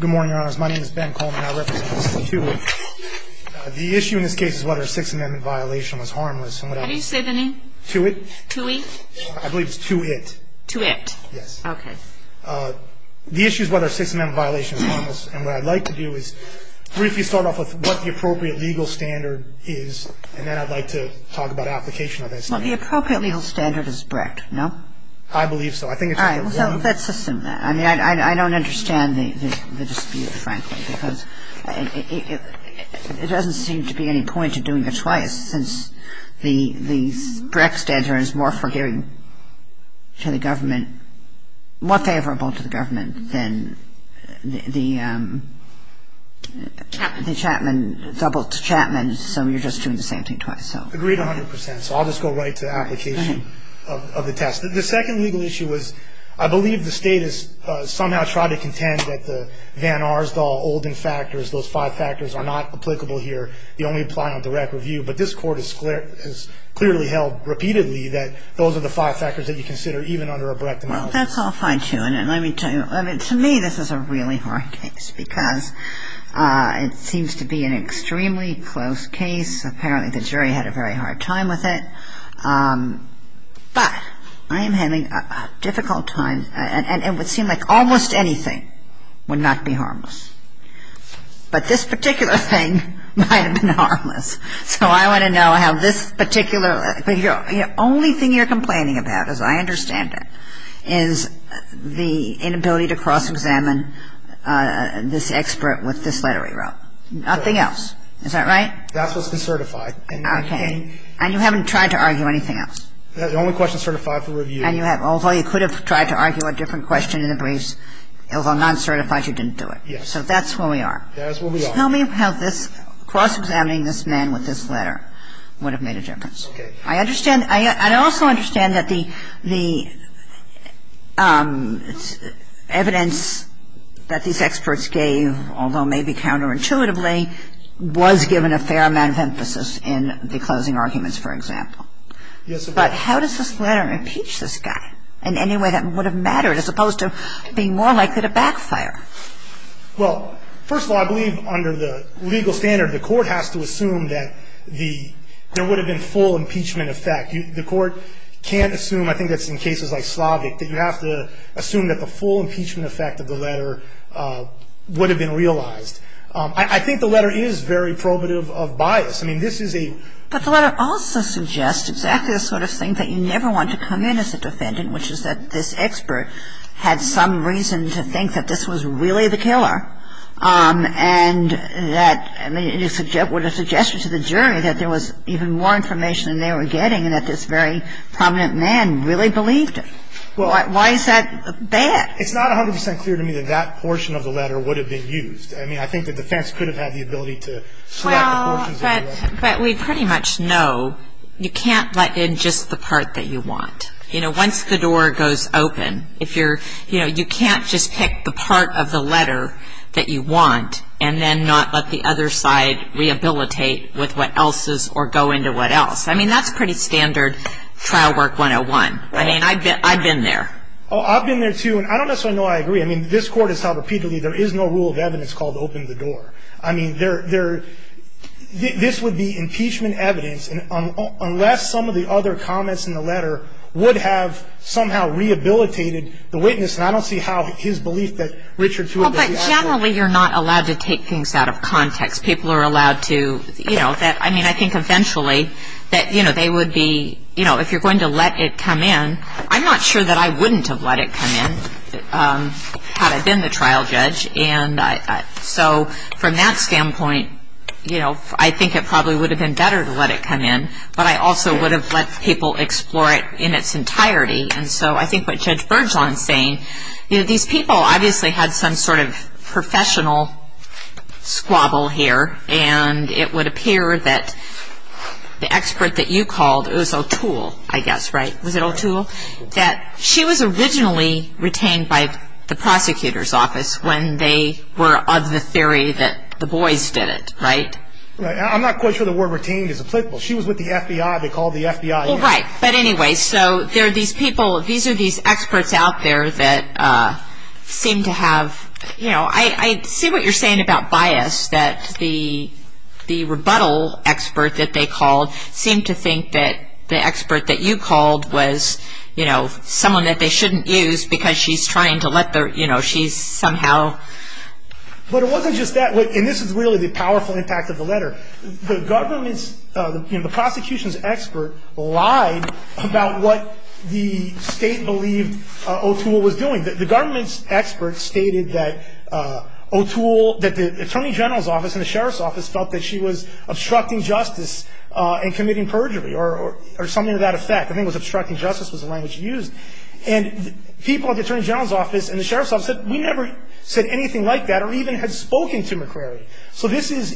Good morning, Your Honors. My name is Ben Coleman. I represent Mr. Tuite. The issue in this case is whether a Sixth Amendment violation was harmless. How do you say the name? Tuite. Tuite? I believe it's Tu-it. Tu-it. Yes. Okay. The issue is whether a Sixth Amendment violation is harmless. And what I'd like to do is briefly start off with what the appropriate legal standard is, and then I'd like to talk about application of that standard. Well, the appropriate legal standard is Brett, no? I believe so. All right. So let's assume that. I mean, I don't understand the dispute, frankly, because it doesn't seem to be any point to doing it twice, since the Brex standard is more forgiving to the government, more favorable to the government than the Chapman, double Chapman, so you're just doing the same thing twice. Agreed 100 percent. So I'll just go right to application of the test. The second legal issue is I believe the State has somehow tried to contend that the Van Arsdall-Olden factors, those five factors, are not applicable here. They only apply on direct review. But this Court has clearly held repeatedly that those are the five factors that you consider, even under a Brecht analysis. Well, that's all fine, too. And let me tell you, to me this is a really hard case because it seems to be an extremely close case. Apparently the jury had a very hard time with it. But I am having a difficult time. And it would seem like almost anything would not be harmless. But this particular thing might have been harmless. So I want to know how this particular – the only thing you're complaining about, as I understand it, is the inability to cross-examine this expert with this letter he wrote. Nothing else. Is that right? That's what's been certified. Okay. And you haven't tried to argue anything else. The only question certified for review. Although you could have tried to argue a different question in the briefs, although non-certified, you didn't do it. So that's where we are. That's where we are. Tell me how this cross-examining this man with this letter would have made a difference. Okay. I understand. I also understand that the evidence that these experts gave, although maybe counterintuitively, was given a fair amount of emphasis in the closing arguments, for example. Yes. But how does this letter impeach this guy in any way that would have mattered, as opposed to being more likely to backfire? Well, first of all, I believe under the legal standard, the court has to assume that there would have been full impeachment effect. The court can't assume, I think that's in cases like Slavic, that you have to assume that the full impeachment effect of the letter would have been realized. I think the letter is very probative of bias. I mean, this is a But the letter also suggests exactly the sort of thing that you never want to come in as a defendant, which is that this expert had some reason to think that this was really the killer, and that, I mean, it would have suggested to the jury that there was even more information than they were getting and that this very prominent man really believed it. Why is that bad? It's not 100 percent clear to me that that portion of the letter would have been used. I mean, I think the defense could have had the ability to select the portions of the letter. Well, but we pretty much know you can't let in just the part that you want. You know, once the door goes open, if you're, you know, you can't just pick the part of the letter that you want and then not let the other side rehabilitate with what else is or go into what else. I mean, that's pretty standard trial work 101. I mean, I've been there. Oh, I've been there, too, and I don't necessarily know I agree. I mean, this court has held repeatedly there is no rule of evidence called open the door. I mean, this would be impeachment evidence, unless some of the other comments in the letter would have somehow rehabilitated the witness, and I don't see how his belief that Richard Thewitt was the expert. Well, but generally you're not allowed to take things out of context. People are allowed to, you know, I mean, I think eventually that, you know, they would be, you know, if you're going to let it come in, I'm not sure that I wouldn't have let it come in had I been the trial judge, and so from that standpoint, you know, I think it probably would have been better to let it come in, but I also would have let people explore it in its entirety, and so I think what Judge Bergeron is saying, you know, these people obviously had some sort of professional squabble here, and it would appear that the expert that you called, it was O'Toole, I guess, right? Was it O'Toole? That she was originally retained by the prosecutor's office when they were of the theory that the boys did it, right? I'm not quite sure the word retained is applicable. She was with the FBI. They called the FBI in. Well, right, but anyway, so there are these people, these are these experts out there that seem to have, you know, I see what you're saying about bias, that the rebuttal expert that they called seemed to think that the expert that you called was, you know, someone that they shouldn't use because she's trying to let the, you know, she's somehow. But it wasn't just that, and this is really the powerful impact of the letter. The government's, you know, the prosecution's expert lied about what the state believed O'Toole was doing. The government's expert stated that O'Toole, that the attorney general's office and the sheriff's office felt that she was obstructing justice and committing perjury or something to that effect. I think it was obstructing justice was the language used. And people at the attorney general's office and the sheriff's office said, we never said anything like that or even had spoken to McCrary. So this is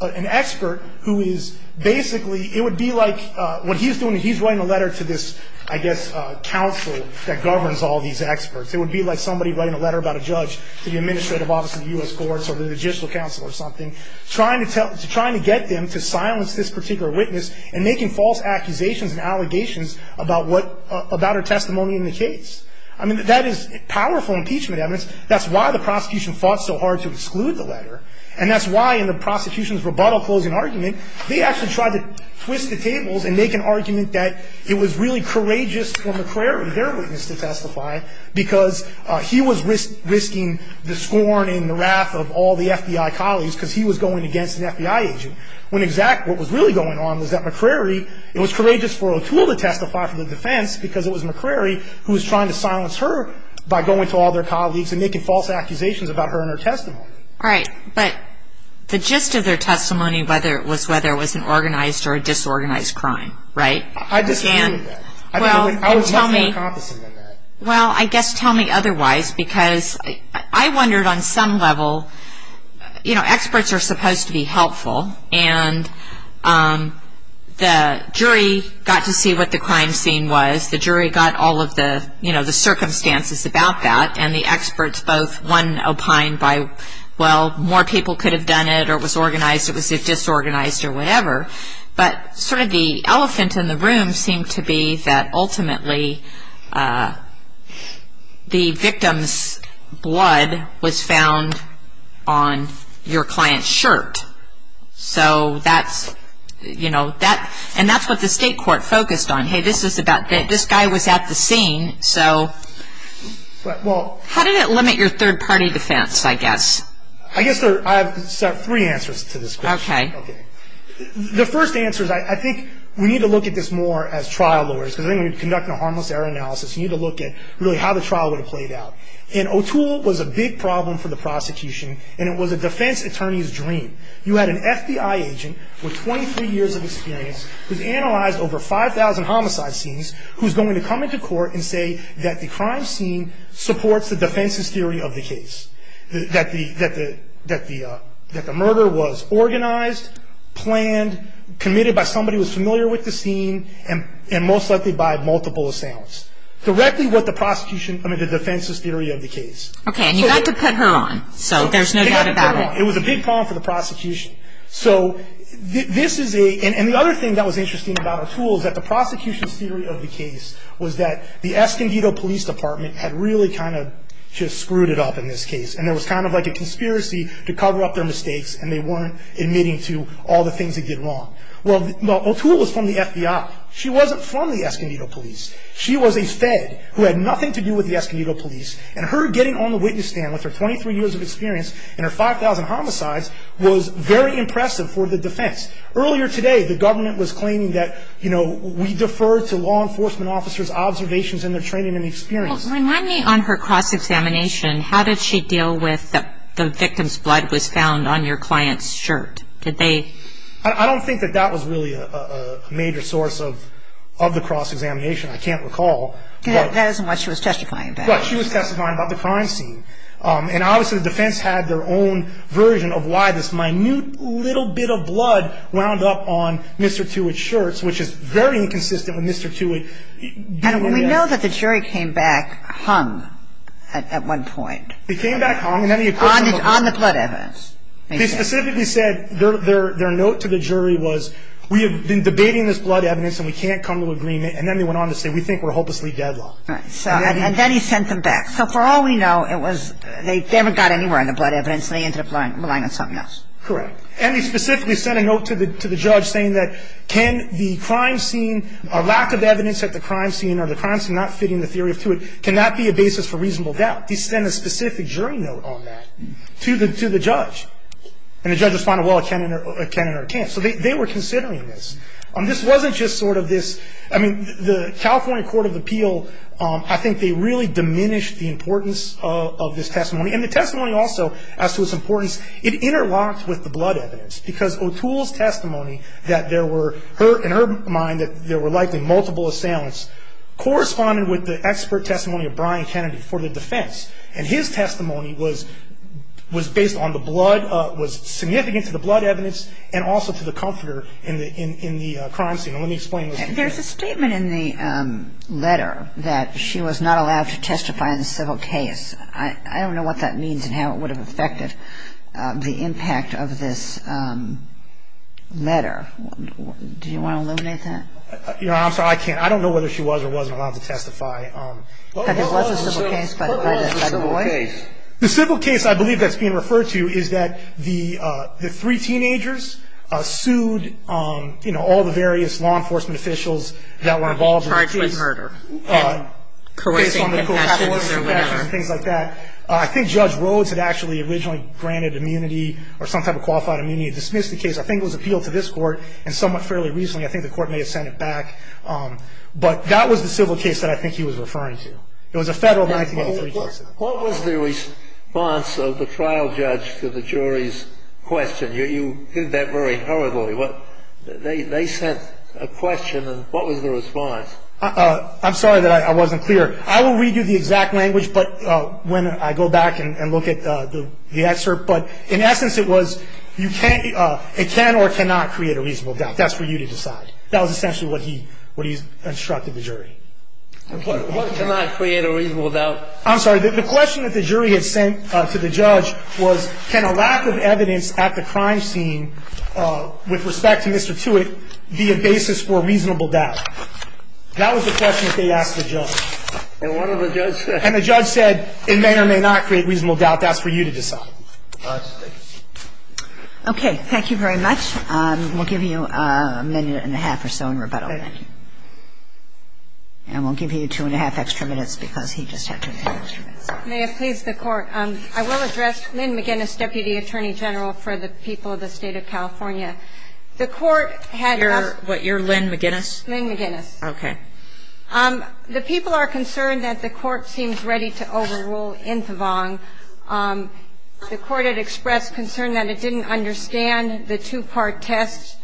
an expert who is basically, it would be like what he's doing, he's writing a letter to this, I guess, council that governs all these experts. It would be like somebody writing a letter about a judge to the administrative office of the U.S. courts or the judicial council or something, trying to get them to silence this particular witness and making false accusations and allegations about what, about her testimony in the case. I mean, that is powerful impeachment evidence. That's why the prosecution fought so hard to exclude the letter. And that's why in the prosecution's rebuttal closing argument, they actually tried to twist the tables and make an argument that it was really courageous for McCrary, their witness to testify, because he was risking the scorn and the wrath of all the FBI colleagues because he was going against an FBI agent. When exactly what was really going on was that McCrary, it was courageous for O'Toole to testify for the defense because it was McCrary who was trying to silence her by going to all their colleagues and making false accusations about her and her testimony. All right. But the gist of their testimony was whether it was an organized or a disorganized crime, right? I disagree with that. Well, I guess tell me otherwise because I wondered on some level, you know, experts are supposed to be helpful and the jury got to see what the crime scene was. The jury got all of the, you know, the circumstances about that and the experts both won opine by, well, more people could have done it or it was organized, it was disorganized or whatever. But sort of the elephant in the room seemed to be that ultimately the victim's blood was found on your client's shirt. So that's, you know, and that's what the state court focused on. Hey, this guy was at the scene, so. How did it limit your third-party defense, I guess? I guess I have three answers to this question. Okay. Okay. The first answer is I think we need to look at this more as trial lawyers because then when you're conducting a harmless error analysis, you need to look at really how the trial would have played out. And O'Toole was a big problem for the prosecution and it was a defense attorney's dream. You had an FBI agent with 23 years of experience who's analyzed over 5,000 homicide scenes who's going to come into court and say that the crime scene supports the defense's theory of the case. That the murder was organized, planned, committed by somebody who was familiar with the scene and most likely by multiple assailants. Directly what the prosecution, I mean the defense's theory of the case. Okay. And you got to put her on, so there's no doubt about it. It was a big problem for the prosecution. So this is a, and the other thing that was interesting about O'Toole is that the prosecution's theory of the case was that the Escondido Police Department had really kind of just screwed it up in this case. And there was kind of like a conspiracy to cover up their mistakes and they weren't admitting to all the things they did wrong. Well, O'Toole was from the FBI. She wasn't from the Escondido Police. She was a fed who had nothing to do with the Escondido Police and her getting on the witness stand with her 23 years of experience and her 5,000 homicides was very impressive for the defense. Earlier today, the government was claiming that, you know, we defer to law enforcement officers' observations in their training and experience. Well, remind me on her cross-examination, how did she deal with the victim's blood was found on your client's shirt? Did they? I don't think that that was really a major source of the cross-examination. I can't recall. That isn't what she was testifying about. Right. She was testifying about the crime scene. And obviously the defense had their own version of why this minute little bit of blood wound up on Mr. Tewitt's shirt, which is very inconsistent with Mr. Tewitt. And we know that the jury came back hung at one point. They came back hung. On the blood evidence. They specifically said their note to the jury was, we have been debating this blood evidence and we can't come to agreement, and then they went on to say we think we're hopelessly deadlocked. And then he sent them back. So for all we know, they never got anywhere on the blood evidence, and they ended up relying on something else. Correct. And they specifically sent a note to the judge saying that can the crime scene, a lack of evidence at the crime scene or the crime scene not fitting the theory of Tewitt, can that be a basis for reasonable doubt? They sent a specific jury note on that to the judge. And the judge responded, well, it can and it can't. So they were considering this. This wasn't just sort of this, I mean, the California Court of Appeal, I think they really diminished the importance of this testimony. And the testimony also, as to its importance, it interlocked with the blood evidence. Because O'Toole's testimony that there were, in her mind, that there were likely multiple assailants corresponded with the expert testimony of Brian Kennedy for the defense. And his testimony was based on the blood, was significant to the blood evidence and also to the comforter in the crime scene. And let me explain this. There's a statement in the letter that she was not allowed to testify in the civil case. I don't know what that means and how it would have affected the impact of this letter. Do you want to eliminate that? You know, I'm sorry, I can't. I don't know whether she was or wasn't allowed to testify. But there was a civil case. There was a civil case. The civil case I believe that's being referred to is that the three teenagers sued, you know, all the various law enforcement officials that were involved in the case. And were being charged with murder and coercing confessions or whatever. Things like that. I think Judge Rhodes had actually originally granted immunity or some type of qualified immunity and dismissed the case. I think it was appealed to this Court and somewhat fairly recently I think the Court may have sent it back. But that was the civil case that I think he was referring to. It was a Federal 1983 case. What was the response of the trial judge to the jury's question? You did that very horribly. They sent a question and what was the response? I'm sorry that I wasn't clear. I will read you the exact language when I go back and look at the excerpt. But in essence it was it can or cannot create a reasonable doubt. That's for you to decide. That was essentially what he instructed the jury. What cannot create a reasonable doubt? I'm sorry. The question that the jury had sent to the judge was can a lack of evidence at the crime scene with respect to Mr. Tewitt be a basis for reasonable doubt? That was the question that they asked the judge. And the judge said it may or may not create reasonable doubt. That's for you to decide. Okay. Thank you very much. We'll give you a minute and a half or so in rebuttal. And we'll give you two and a half extra minutes because he just had two and a half extra minutes. May it please the Court. I will address Lynn McGinnis, Deputy Attorney General, for the people of the State of California. The Court had asked. You're what? You're Lynn McGinnis? Lynn McGinnis. Okay. The people are concerned that the Court seems ready to overrule Intivong. The Court had expressed concern that it didn't understand the two-part test,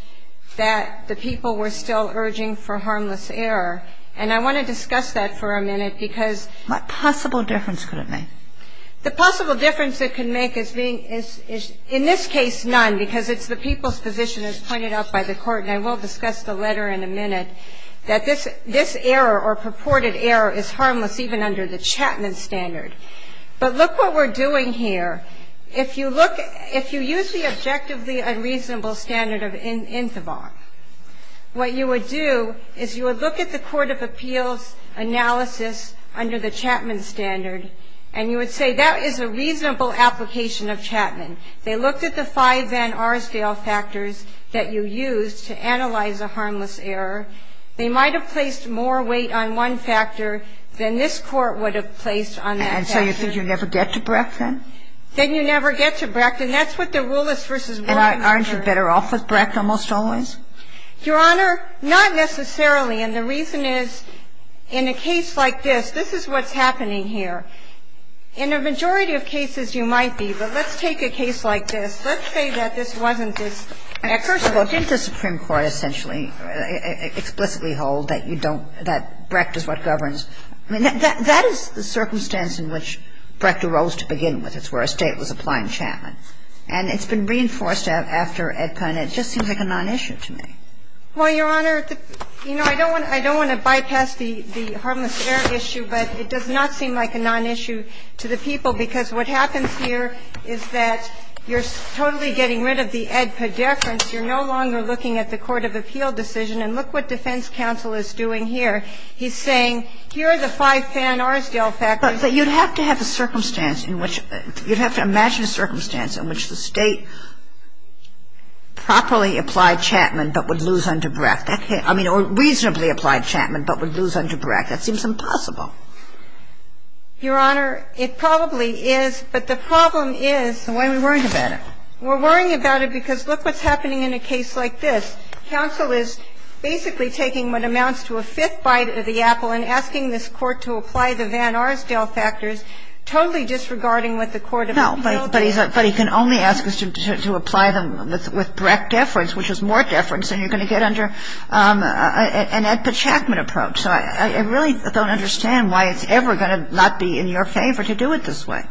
that the people were still urging for harmless error. And I want to discuss that for a minute because. What possible difference could it make? The possible difference it could make is being, in this case, none, because it's the people's position as pointed out by the Court, and I will discuss the letter in a minute, that this error or purported error is harmless even under the Chapman standard. But look what we're doing here. If you look at ‑‑ if you use the objectively unreasonable standard of Intivong, what you would do is you would look at the court of appeals analysis under the Chapman standard, and you would say that is a reasonable application of Chapman. They looked at the five Van Arsdale factors that you used to analyze a harmless error. They might have placed more weight on one factor than this Court would have placed on that factor. And so you think you never get to Brecht, then? Then you never get to Brecht. And that's what the rule is versus what ‑‑ And aren't you better off with Brecht almost always? Your Honor, not necessarily. And the reason is, in a case like this, this is what's happening here. In a majority of cases, you might be. But let's take a case like this. Let's say that this wasn't this. First of all, didn't the Supreme Court essentially explicitly hold that you don't ‑‑ that Brecht is what governs? I mean, that is the circumstance in which Brecht arose to begin with. It's where a State was applying Chapman. And it's been reinforced after AEDPA, and it just seems like a nonissue to me. Well, Your Honor, you know, I don't want to bypass the harmless error issue, but it does not seem like a nonissue to the people, because what happens here is that you're totally getting rid of the AEDPA deference. You're no longer looking at the court of appeal decision. And look what defense counsel is doing here. He's saying, here are the five Van Arsdale factors. But you'd have to have a circumstance in which ‑‑ you'd have to imagine a circumstance in which the State properly applied Chapman but would lose under Brecht. I mean, or reasonably applied Chapman but would lose under Brecht. That seems impossible. Your Honor, it probably is. But the problem is ‑‑ And why are we worrying about it? We're worrying about it because look what's happening in a case like this. Counsel is basically taking what amounts to a fifth bite of the apple and asking this Court to apply the Van Arsdale factors, totally disregarding what the court of appeal says. No, but he can only ask us to apply them with Brecht deference, which is more deference than you're going to get under an AEDPA-Chapman approach. So I really don't understand why it's ever going to not be in your favor to do it this way.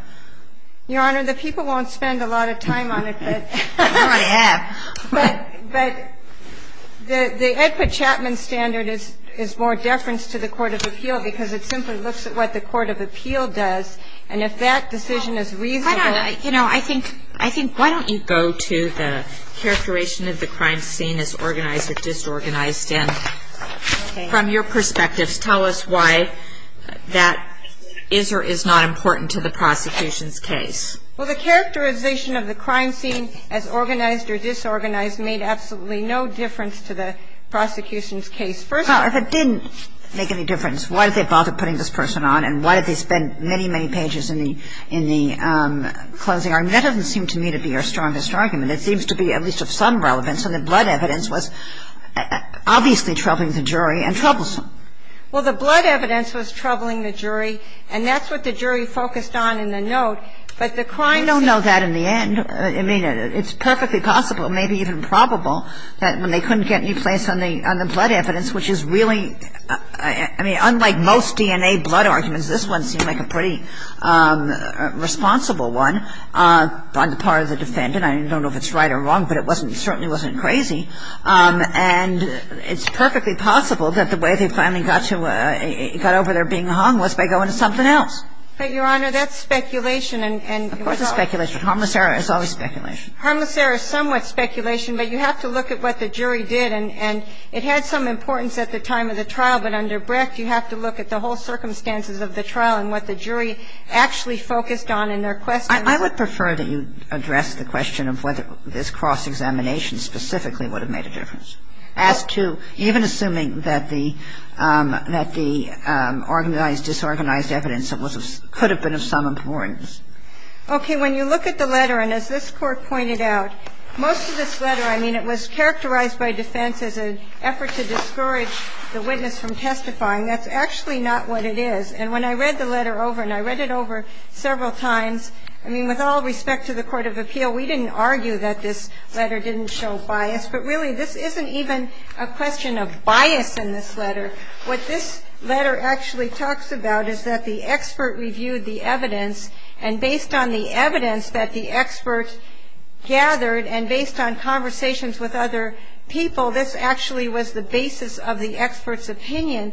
Your Honor, the people won't spend a lot of time on it, but ‑‑ They already have. But the AEDPA-Chapman standard is more deference to the court of appeal because it simply looks at what the court of appeal does. And if that decision is reasonable ‑‑ Why don't you go to the characterization of the crime scene as organized or disorganized. And from your perspectives, tell us why that is or is not important to the prosecution's case. Well, the characterization of the crime scene as organized or disorganized made absolutely no difference to the prosecution's case. First of all ‑‑ If it didn't make any difference, why did they bother putting this person on and why did they spend many, many pages in the closing argument? That doesn't seem to me to be our strongest argument. It seems to be at least of some relevance. And the blood evidence was obviously troubling the jury and troublesome. Well, the blood evidence was troubling the jury, and that's what the jury focused on in the note. But the crime scene ‑‑ We don't know that in the end. I mean, it's perfectly possible, maybe even probable, that they couldn't get any place on the blood evidence, which is really ‑‑ I mean, unlike most DNA blood arguments, this one seemed like a pretty responsible one on the part of the defendant. I don't know if it's right or wrong, but it certainly wasn't crazy. And it's perfectly possible that the way they finally got over their being hung was by going to something else. But, Your Honor, that's speculation and ‑‑ Of course it's speculation. Harmless error is always speculation. Harmless error is somewhat speculation, but you have to look at what the jury did. And it had some importance at the time of the trial, but under Brecht, you have to look at the whole circumstances of the trial and what the jury actually focused on in their questioning. I would prefer that you address the question of whether this cross-examination specifically would have made a difference. As to even assuming that the ‑‑ that the organized, disorganized evidence could have been of some importance. Okay. When you look at the letter, and as this Court pointed out, most of this letter, I mean, it was characterized by defense as an effort to discourage the witness from testifying. That's actually not what it is. And when I read the letter over, and I read it over several times, I mean, with all respect to the court of appeal, we didn't argue that this letter didn't show bias. But, really, this isn't even a question of bias in this letter. What this letter actually talks about is that the expert reviewed the evidence, and based on the evidence that the expert gathered, and based on conversations with other people, this actually was the basis of the expert's opinion.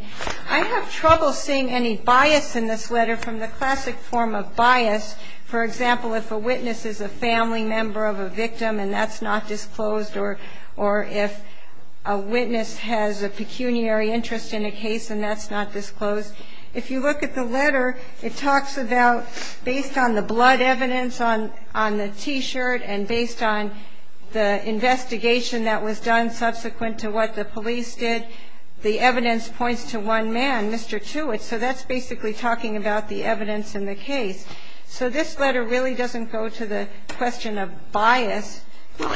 I have trouble seeing any bias in this letter from the classic form of bias. For example, if a witness is a family member of a victim and that's not disclosed, or if a witness has a pecuniary interest in a case and that's not disclosed, if you look at the letter, it talks about, based on the blood evidence on the T-shirt and based on the investigation that was done subsequent to what the police did, the evidence points to one man, Mr. Tewitt. So that's basically talking about the evidence in the case. So this letter really doesn't go to the question of bias. Well,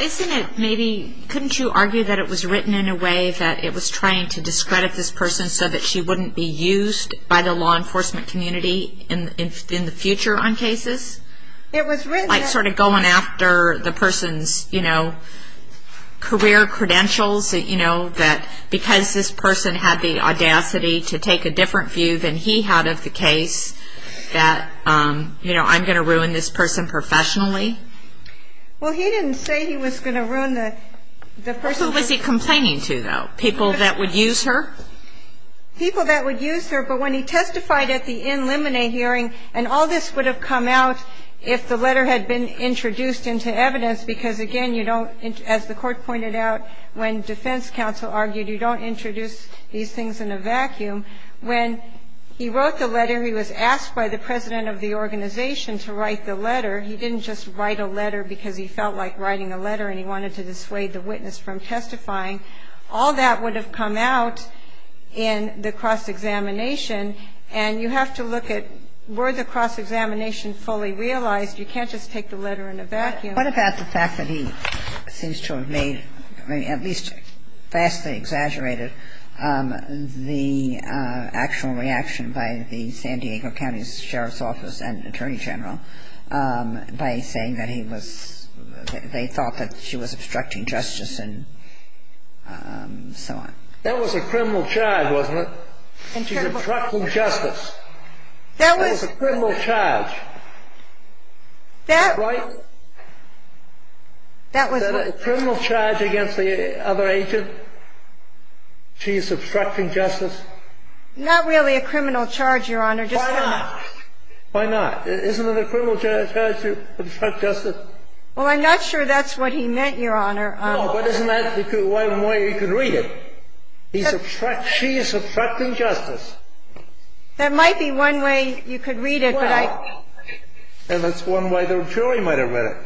couldn't you argue that it was written in a way that it was trying to discredit this person so that she wouldn't be used by the law enforcement community in the future on cases? Like sort of going after the person's career credentials, that because this person had the audacity to take a different view than he had of the case, that I'm going to ruin this person professionally? Well, he didn't say he was going to ruin the person. Who was he complaining to, though? People that would use her? People that would use her. But when he testified at the in limine hearing, and all this would have come out if the letter had been introduced into evidence, because, again, you don't, as the Court pointed out, when defense counsel argued you don't introduce these things in a vacuum. When he wrote the letter, he was asked by the president of the organization to write the letter. He didn't just write a letter because he felt like writing a letter and he wanted to dissuade the witness from testifying. All that would have come out in the cross-examination, and you have to look at were the cross-examination fully realized. You can't just take the letter in a vacuum. What about the fact that he seems to have made, at least vastly exaggerated, the actual reaction by the San Diego County Sheriff's Office and Attorney General by saying that he was, they thought that she was obstructing justice and so on. That was a criminal charge, wasn't it? She's obstructing justice. That was a criminal charge. Right? That was a criminal charge against the other agent. She's obstructing justice. Not really a criminal charge, Your Honor. Why not? Why not? Isn't it a criminal charge to obstruct justice? Well, I'm not sure that's what he meant, Your Honor. No, but isn't that one way you could read it? She's obstructing justice. That might be one way you could read it. And that's one way the jury might have read it.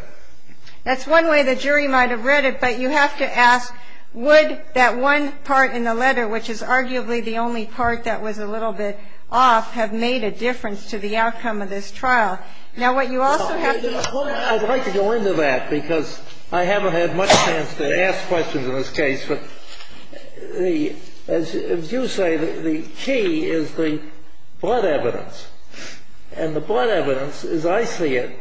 That's one way the jury might have read it, but you have to ask would that one part in the letter, which is arguably the only part that was a little bit off, have made a difference to the outcome of this trial? Now, what you also have to do is ask. I'd like to go into that because I haven't had much chance to ask questions in this case, but as you say, the key is the blood evidence. And the blood evidence, as I see it,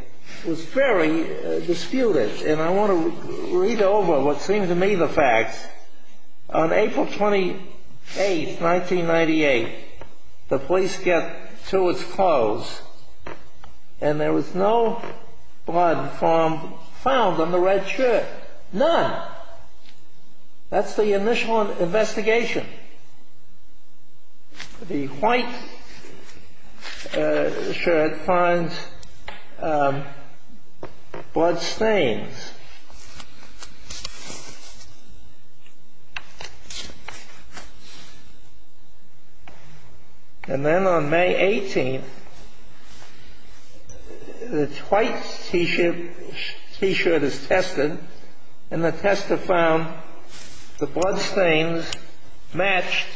was very disputed. And I want to read over what seemed to me the facts. On April 28, 1998, the police get to its close, and there was no blood found on the red shirt. None. That's the initial investigation. The white shirt finds blood stains. And then on May 18, the white T-shirt is tested, and the tester found the blood stains matched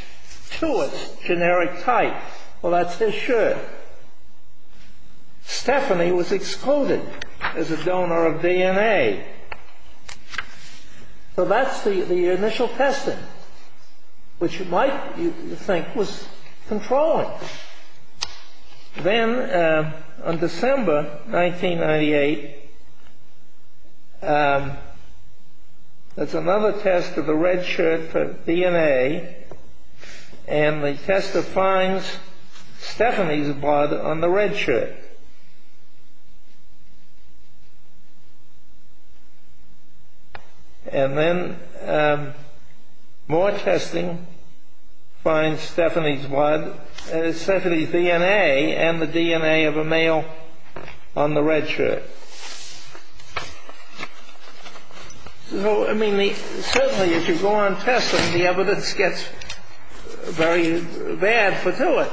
to its generic type. Well, that's his shirt. Stephanie was excluded as a donor of DNA. So that's the initial testing, which you might think was controlling. Then on December 1998, there's another test of the red shirt for DNA, and the tester finds Stephanie's blood on the red shirt. And then more testing finds Stephanie's blood, Stephanie's DNA, and the DNA of a male on the red shirt. So, I mean, certainly if you go on testing, the evidence gets very bad for doing it.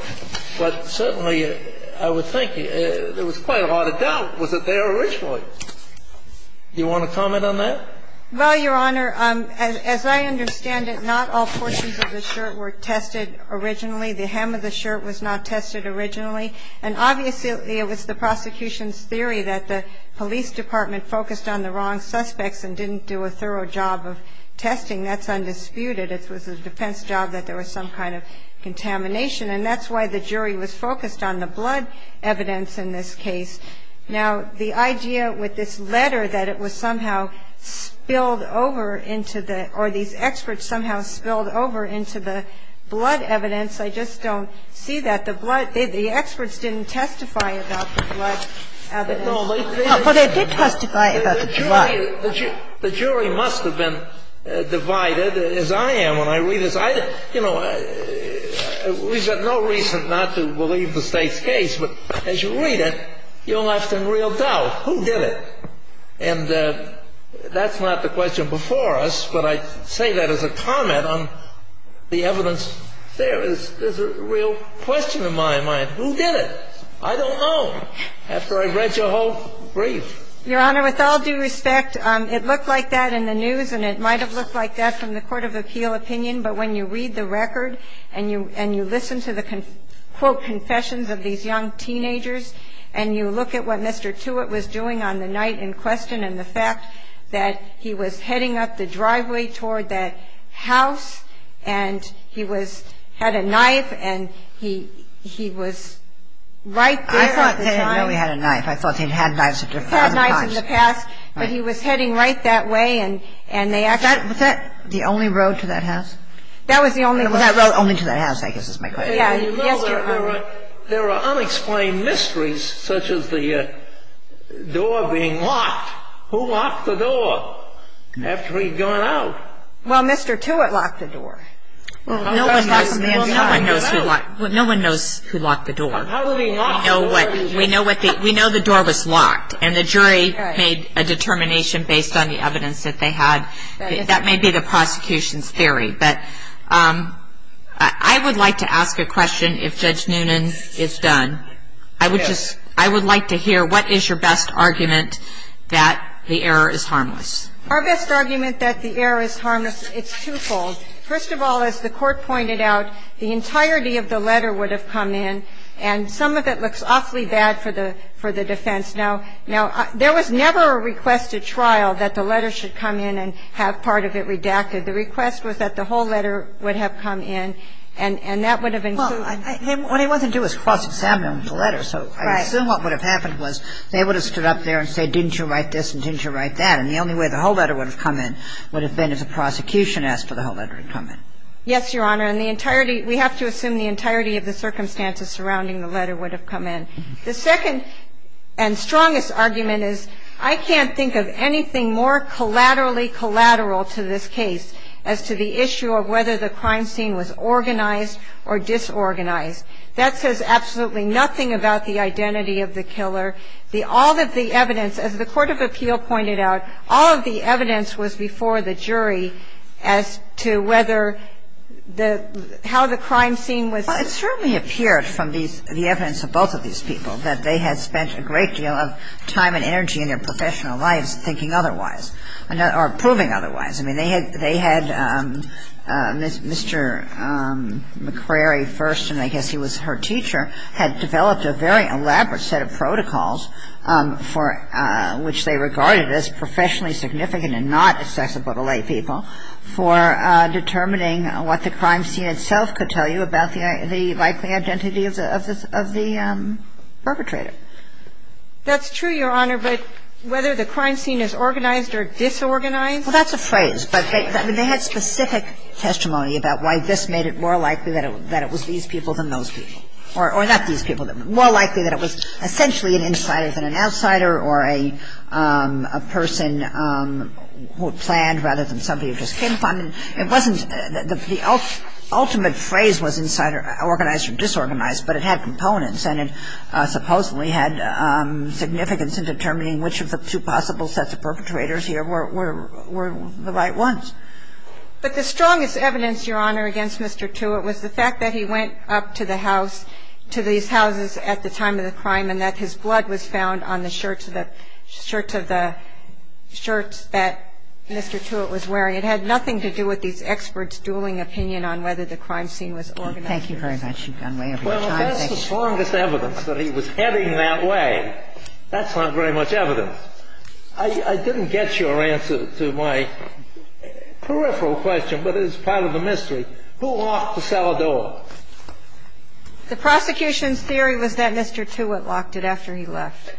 But certainly, I would think there was quite a lot of doubt. Was it there originally? Do you want to comment on that? Well, Your Honor, as I understand it, not all portions of the shirt were tested originally. The hem of the shirt was not tested originally. And obviously, it was the prosecution's theory that the police department focused on the wrong suspects and didn't do a thorough job of testing. That's undisputed. It was the defense's job that there was some kind of contamination. And that's why the jury was focused on the blood evidence in this case. Now, the idea with this letter that it was somehow spilled over into the or these experts somehow spilled over into the blood evidence, I just don't see that. The blood, the experts didn't testify about the blood evidence. Well, they did testify about the blood. The jury must have been divided, as I am when I read this. You know, we've got no reason not to believe the State's case. But as you read it, you're left in real doubt. Who did it? And that's not the question before us, but I say that as a comment on the evidence. There is a real question in my mind. Who did it? I don't know, after I read your whole brief. Your Honor, with all due respect, it looked like that in the news, and it might have looked like that from the court of appeal opinion. But when you read the record and you listen to the, quote, confessions of these young teenagers, and you look at what Mr. Tewitt was doing on the night in question, and the fact that he was heading up the driveway toward that house, and he had a knife, and he was right there at the time. I didn't know he had a knife. I thought he'd had knives a thousand times. He'd had knives in the past, but he was heading right that way, and they actually found him. Was that the only road to that house? That was the only road. It was that road only to that house, I guess is my question. Yes, Your Honor. There are unexplained mysteries, such as the door being locked. Who locked the door after he'd gone out? Well, Mr. Tewitt locked the door. Well, no one knows who locked the door. How did he lock the door? We know the door was locked, and the jury made a determination based on the evidence that they had. That may be the prosecution's theory. But I would like to ask a question if Judge Noonan is done. I would like to hear what is your best argument that the error is harmless? Our best argument that the error is harmless, it's twofold. First of all, as the Court pointed out, the entirety of the letter would have come in, and some of it looks awfully bad for the defense. Now, there was never a request at trial that the letter should come in and have part of it redacted. The request was that the whole letter would have come in, and that would have included Well, what he wanted to do was cross-examine the letter. So I assume what would have happened was they would have stood up there and said, didn't you write this and didn't you write that? And the only way the whole letter would have come in would have been if the prosecution asked for the whole letter to come in. Yes, Your Honor. And the entirety, we have to assume the entirety of the circumstances surrounding the letter would have come in. The second and strongest argument is I can't think of anything more collaterally collateral to this case as to the issue of whether the crime scene was organized or disorganized. That says absolutely nothing about the identity of the killer. The all of the evidence, as the court of appeal pointed out, all of the evidence was before the jury as to whether the how the crime scene was Well, it certainly appeared from the evidence of both of these people that they had spent a great deal of time and energy in their professional lives thinking otherwise or proving otherwise. I mean, they had Mr. McCrary first, and I guess he was her teacher, had developed a very elaborate set of protocols for which they regarded as professionally significant and not accessible to lay people for determining what the crime scene itself could tell you about the likely identity of the perpetrator. That's true, Your Honor, but whether the crime scene is organized or disorganized Well, that's a phrase. But they had specific testimony about why this made it more likely that it was these people than those people. Or not these people. More likely that it was essentially an insider than an outsider or a person who planned rather than somebody who just came upon. It wasn't the ultimate phrase was insider, organized or disorganized, but it had components and it supposedly had significance in determining which of the two possible sets of perpetrators here were the right ones. But the strongest evidence, Your Honor, against Mr. Tewitt was the fact that he went up to the house, to these houses at the time of the crime and that his blood was found on the shirts that Mr. Tewitt was wearing. I'm sorry. It had nothing to do with these experts dueling opinion on whether the crime scene was organized. Thank you very much. You've gone way over your time. Well, that's the strongest evidence, that he was heading that way. That's not very much evidence. I didn't get your answer to my peripheral question, but it is part of the mystery. Who locked the cellar door? The prosecution's theory was that Mr. Tewitt locked it after he left.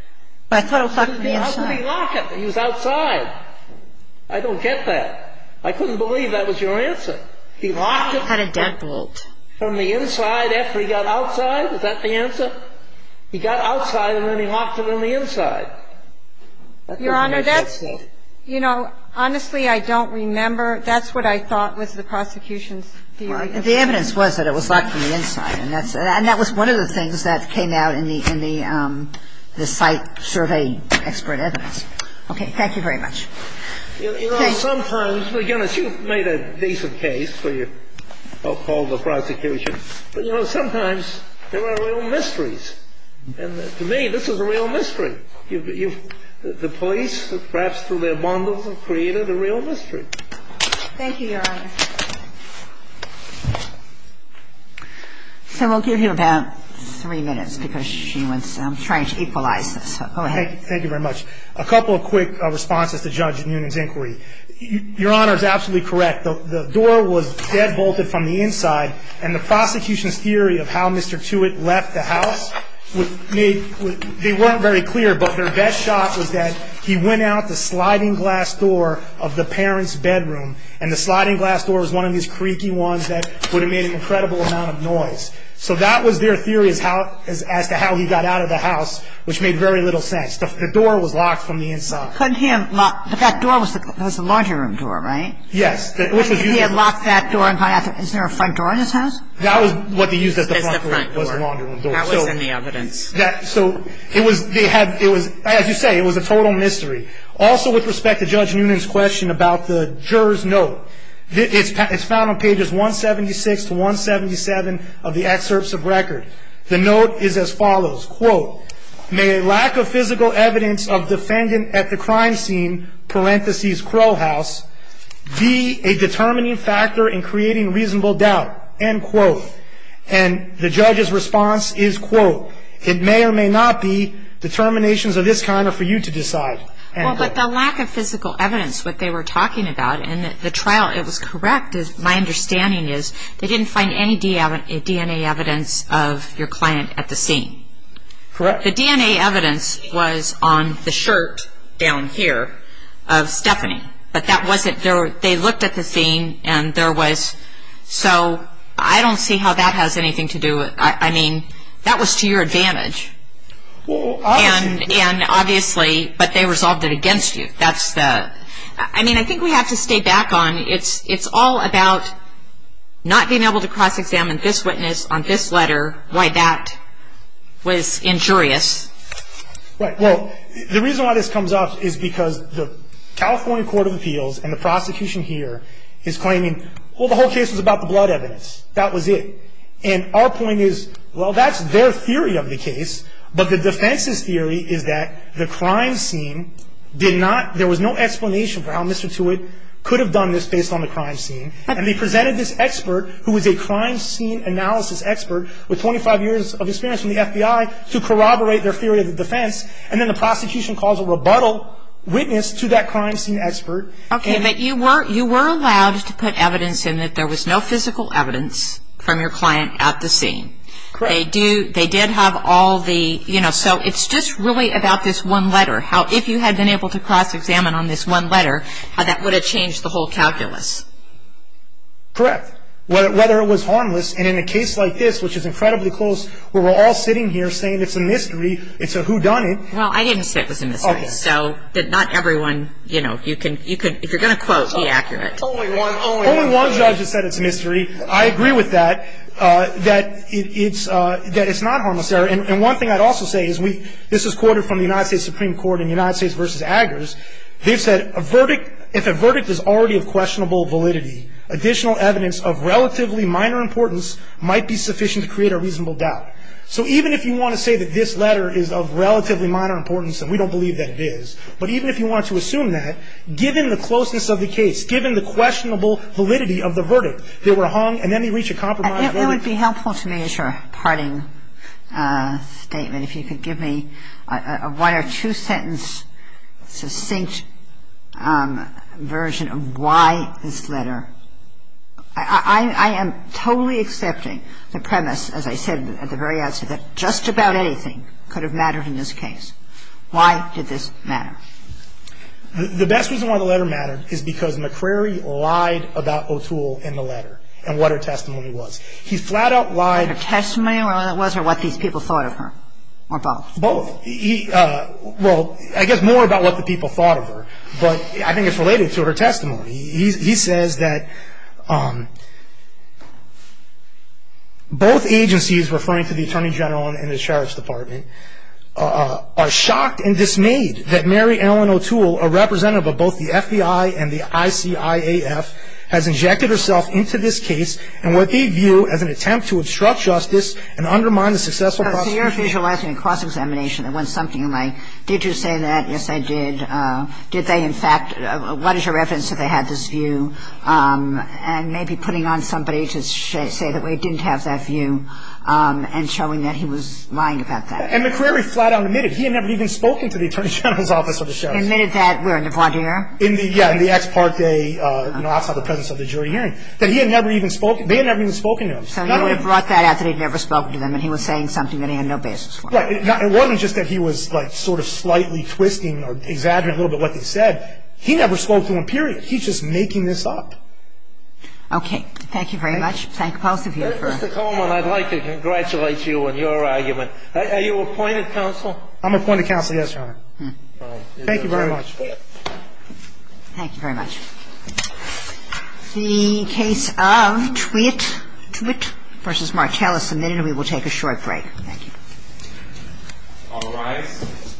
But I thought it was locked from the inside. He was outside. I don't get that. I couldn't believe that was your answer. He locked it from the inside after he got outside? Is that the answer? He got outside, and then he locked it on the inside. That doesn't make sense to me. Your Honor, that's, you know, honestly, I don't remember. That's what I thought was the prosecution's theory. The evidence was that it was locked from the inside, and that was one of the things that came out in the site survey expert evidence. Okay. Thank you very much. You know, sometimes, again, as you've made a decent case for your call to prosecution, but, you know, sometimes there are real mysteries. And to me, this is a real mystery. The police, perhaps through their bondage, have created a real mystery. Thank you, Your Honor. So we'll give you about three minutes, because she was trying to equalize this. Go ahead. Thank you very much. A couple of quick responses to Judge Noonan's inquiry. Your Honor is absolutely correct. The door was deadbolted from the inside, and the prosecution's theory of how Mr. Tewitt left the house, they weren't very clear. But their best shot was that he went out the sliding glass door of the parent's bedroom, and the sliding glass door was one of these creaky ones that would have made an incredible amount of noise. So that was their theory as to how he got out of the house, which made very little sense. The door was locked from the inside. But that door was the laundry room door, right? Yes. He had locked that door. Is there a front door in his house? That was what they used as the front door. That was in the evidence. So as you say, it was a total mystery. Also with respect to Judge Noonan's question about the juror's note, it's found on pages 176 to 177 of the excerpts of record. The note is as follows, quote, may lack of physical evidence of defendant at the crime scene, parentheses Crow House, be a determining factor in creating reasonable doubt, end quote. And the judge's response is, quote, it may or may not be determinations of this kind are for you to decide, end quote. Well, but the lack of physical evidence, what they were talking about in the trial, it was correct, my understanding is they didn't find any DNA evidence of your client at the scene. Correct. The DNA evidence was on the shirt down here of Stephanie. But that wasn't, they looked at the scene and there was, so I don't see how that has anything to do with, I mean, that was to your advantage. Well, obviously. And obviously, but they resolved it against you. I mean, I think we have to stay back on, it's all about not being able to cross-examine this witness on this letter, why that was injurious. Well, the reason why this comes up is because the California Court of Appeals and the prosecution here is claiming, well, the whole case was about the blood evidence, that was it. And our point is, well, that's their theory of the case, but the defense's theory is that the crime scene did not, there was no explanation for how Mr. Tewitt could have done this based on the crime scene. And they presented this expert who was a crime scene analysis expert with 25 years of experience in the FBI to corroborate their theory of the defense, and then the prosecution calls a rebuttal witness to that crime scene expert. Okay, but you were allowed to put evidence in that there was no physical evidence from your client at the scene. Correct. But they did have all the, you know, so it's just really about this one letter, how if you had been able to cross-examine on this one letter, how that would have changed the whole calculus. Correct. Whether it was harmless, and in a case like this, which is incredibly close, where we're all sitting here saying it's a mystery, it's a whodunit. Well, I didn't say it was a mystery, so not everyone, you know, if you're going to quote, be accurate. Only one judge has said it's a mystery. I agree with that, that it's not harmless. And one thing I'd also say is we've, this is quoted from the United States Supreme Court in United States v. Aggers. They've said, if a verdict is already of questionable validity, additional evidence of relatively minor importance might be sufficient to create a reasonable doubt. So even if you want to say that this letter is of relatively minor importance and we don't believe that it is, but even if you want to assume that, given the closeness of the case, it's given the questionable validity of the verdict. They were hung, and then they reach a compromise. It would be helpful to me as your parting statement if you could give me a one or two-sentence, succinct version of why this letter. I am totally accepting the premise, as I said at the very outset, that just about anything could have mattered in this case. Why did this matter? The best reason why the letter mattered is because McCrary lied about O'Toole in the letter and what her testimony was. He flat-out lied. Her testimony, what it was, or what these people thought of her, or both? Both. He, well, I guess more about what the people thought of her, but I think it's related to her testimony. He says that both agencies, referring to the Attorney General and the Sheriff's Department, are shocked and dismayed that Mary Ellen O'Toole, a representative of both the FBI and the ICIAF, has injected herself into this case and what they view as an attempt to obstruct justice and undermine the successful prosecution. So you're visualizing a cross-examination that went something like, did you say that? Yes, I did. Did they, in fact, what is your reference to they had this view? And maybe putting on somebody to say that we didn't have that view and showing that he was lying about that. And McCrary flat-out admitted he had never even spoken to the Attorney General's office or the Sheriff's. Admitted that where, in the voir dire? Yeah, in the ex parte, outside the presence of the jury hearing, that he had never even spoken. They had never even spoken to him. So he would have brought that out that he had never spoken to them and he was saying something that he had no basis for. Right. It wasn't just that he was sort of slightly twisting or exaggerating a little bit what they said. He never spoke to them, period. He's just making this up. Okay. Thank you very much. Thank both of you for Mr. Coleman, I'd like to congratulate you on your argument. Are you appointed counsel? I'm appointed counsel, yes, Your Honor. Thank you very much. Thank you very much. The case of Twitt v. Martell is submitted. We will take a short break. Thank you. All rise.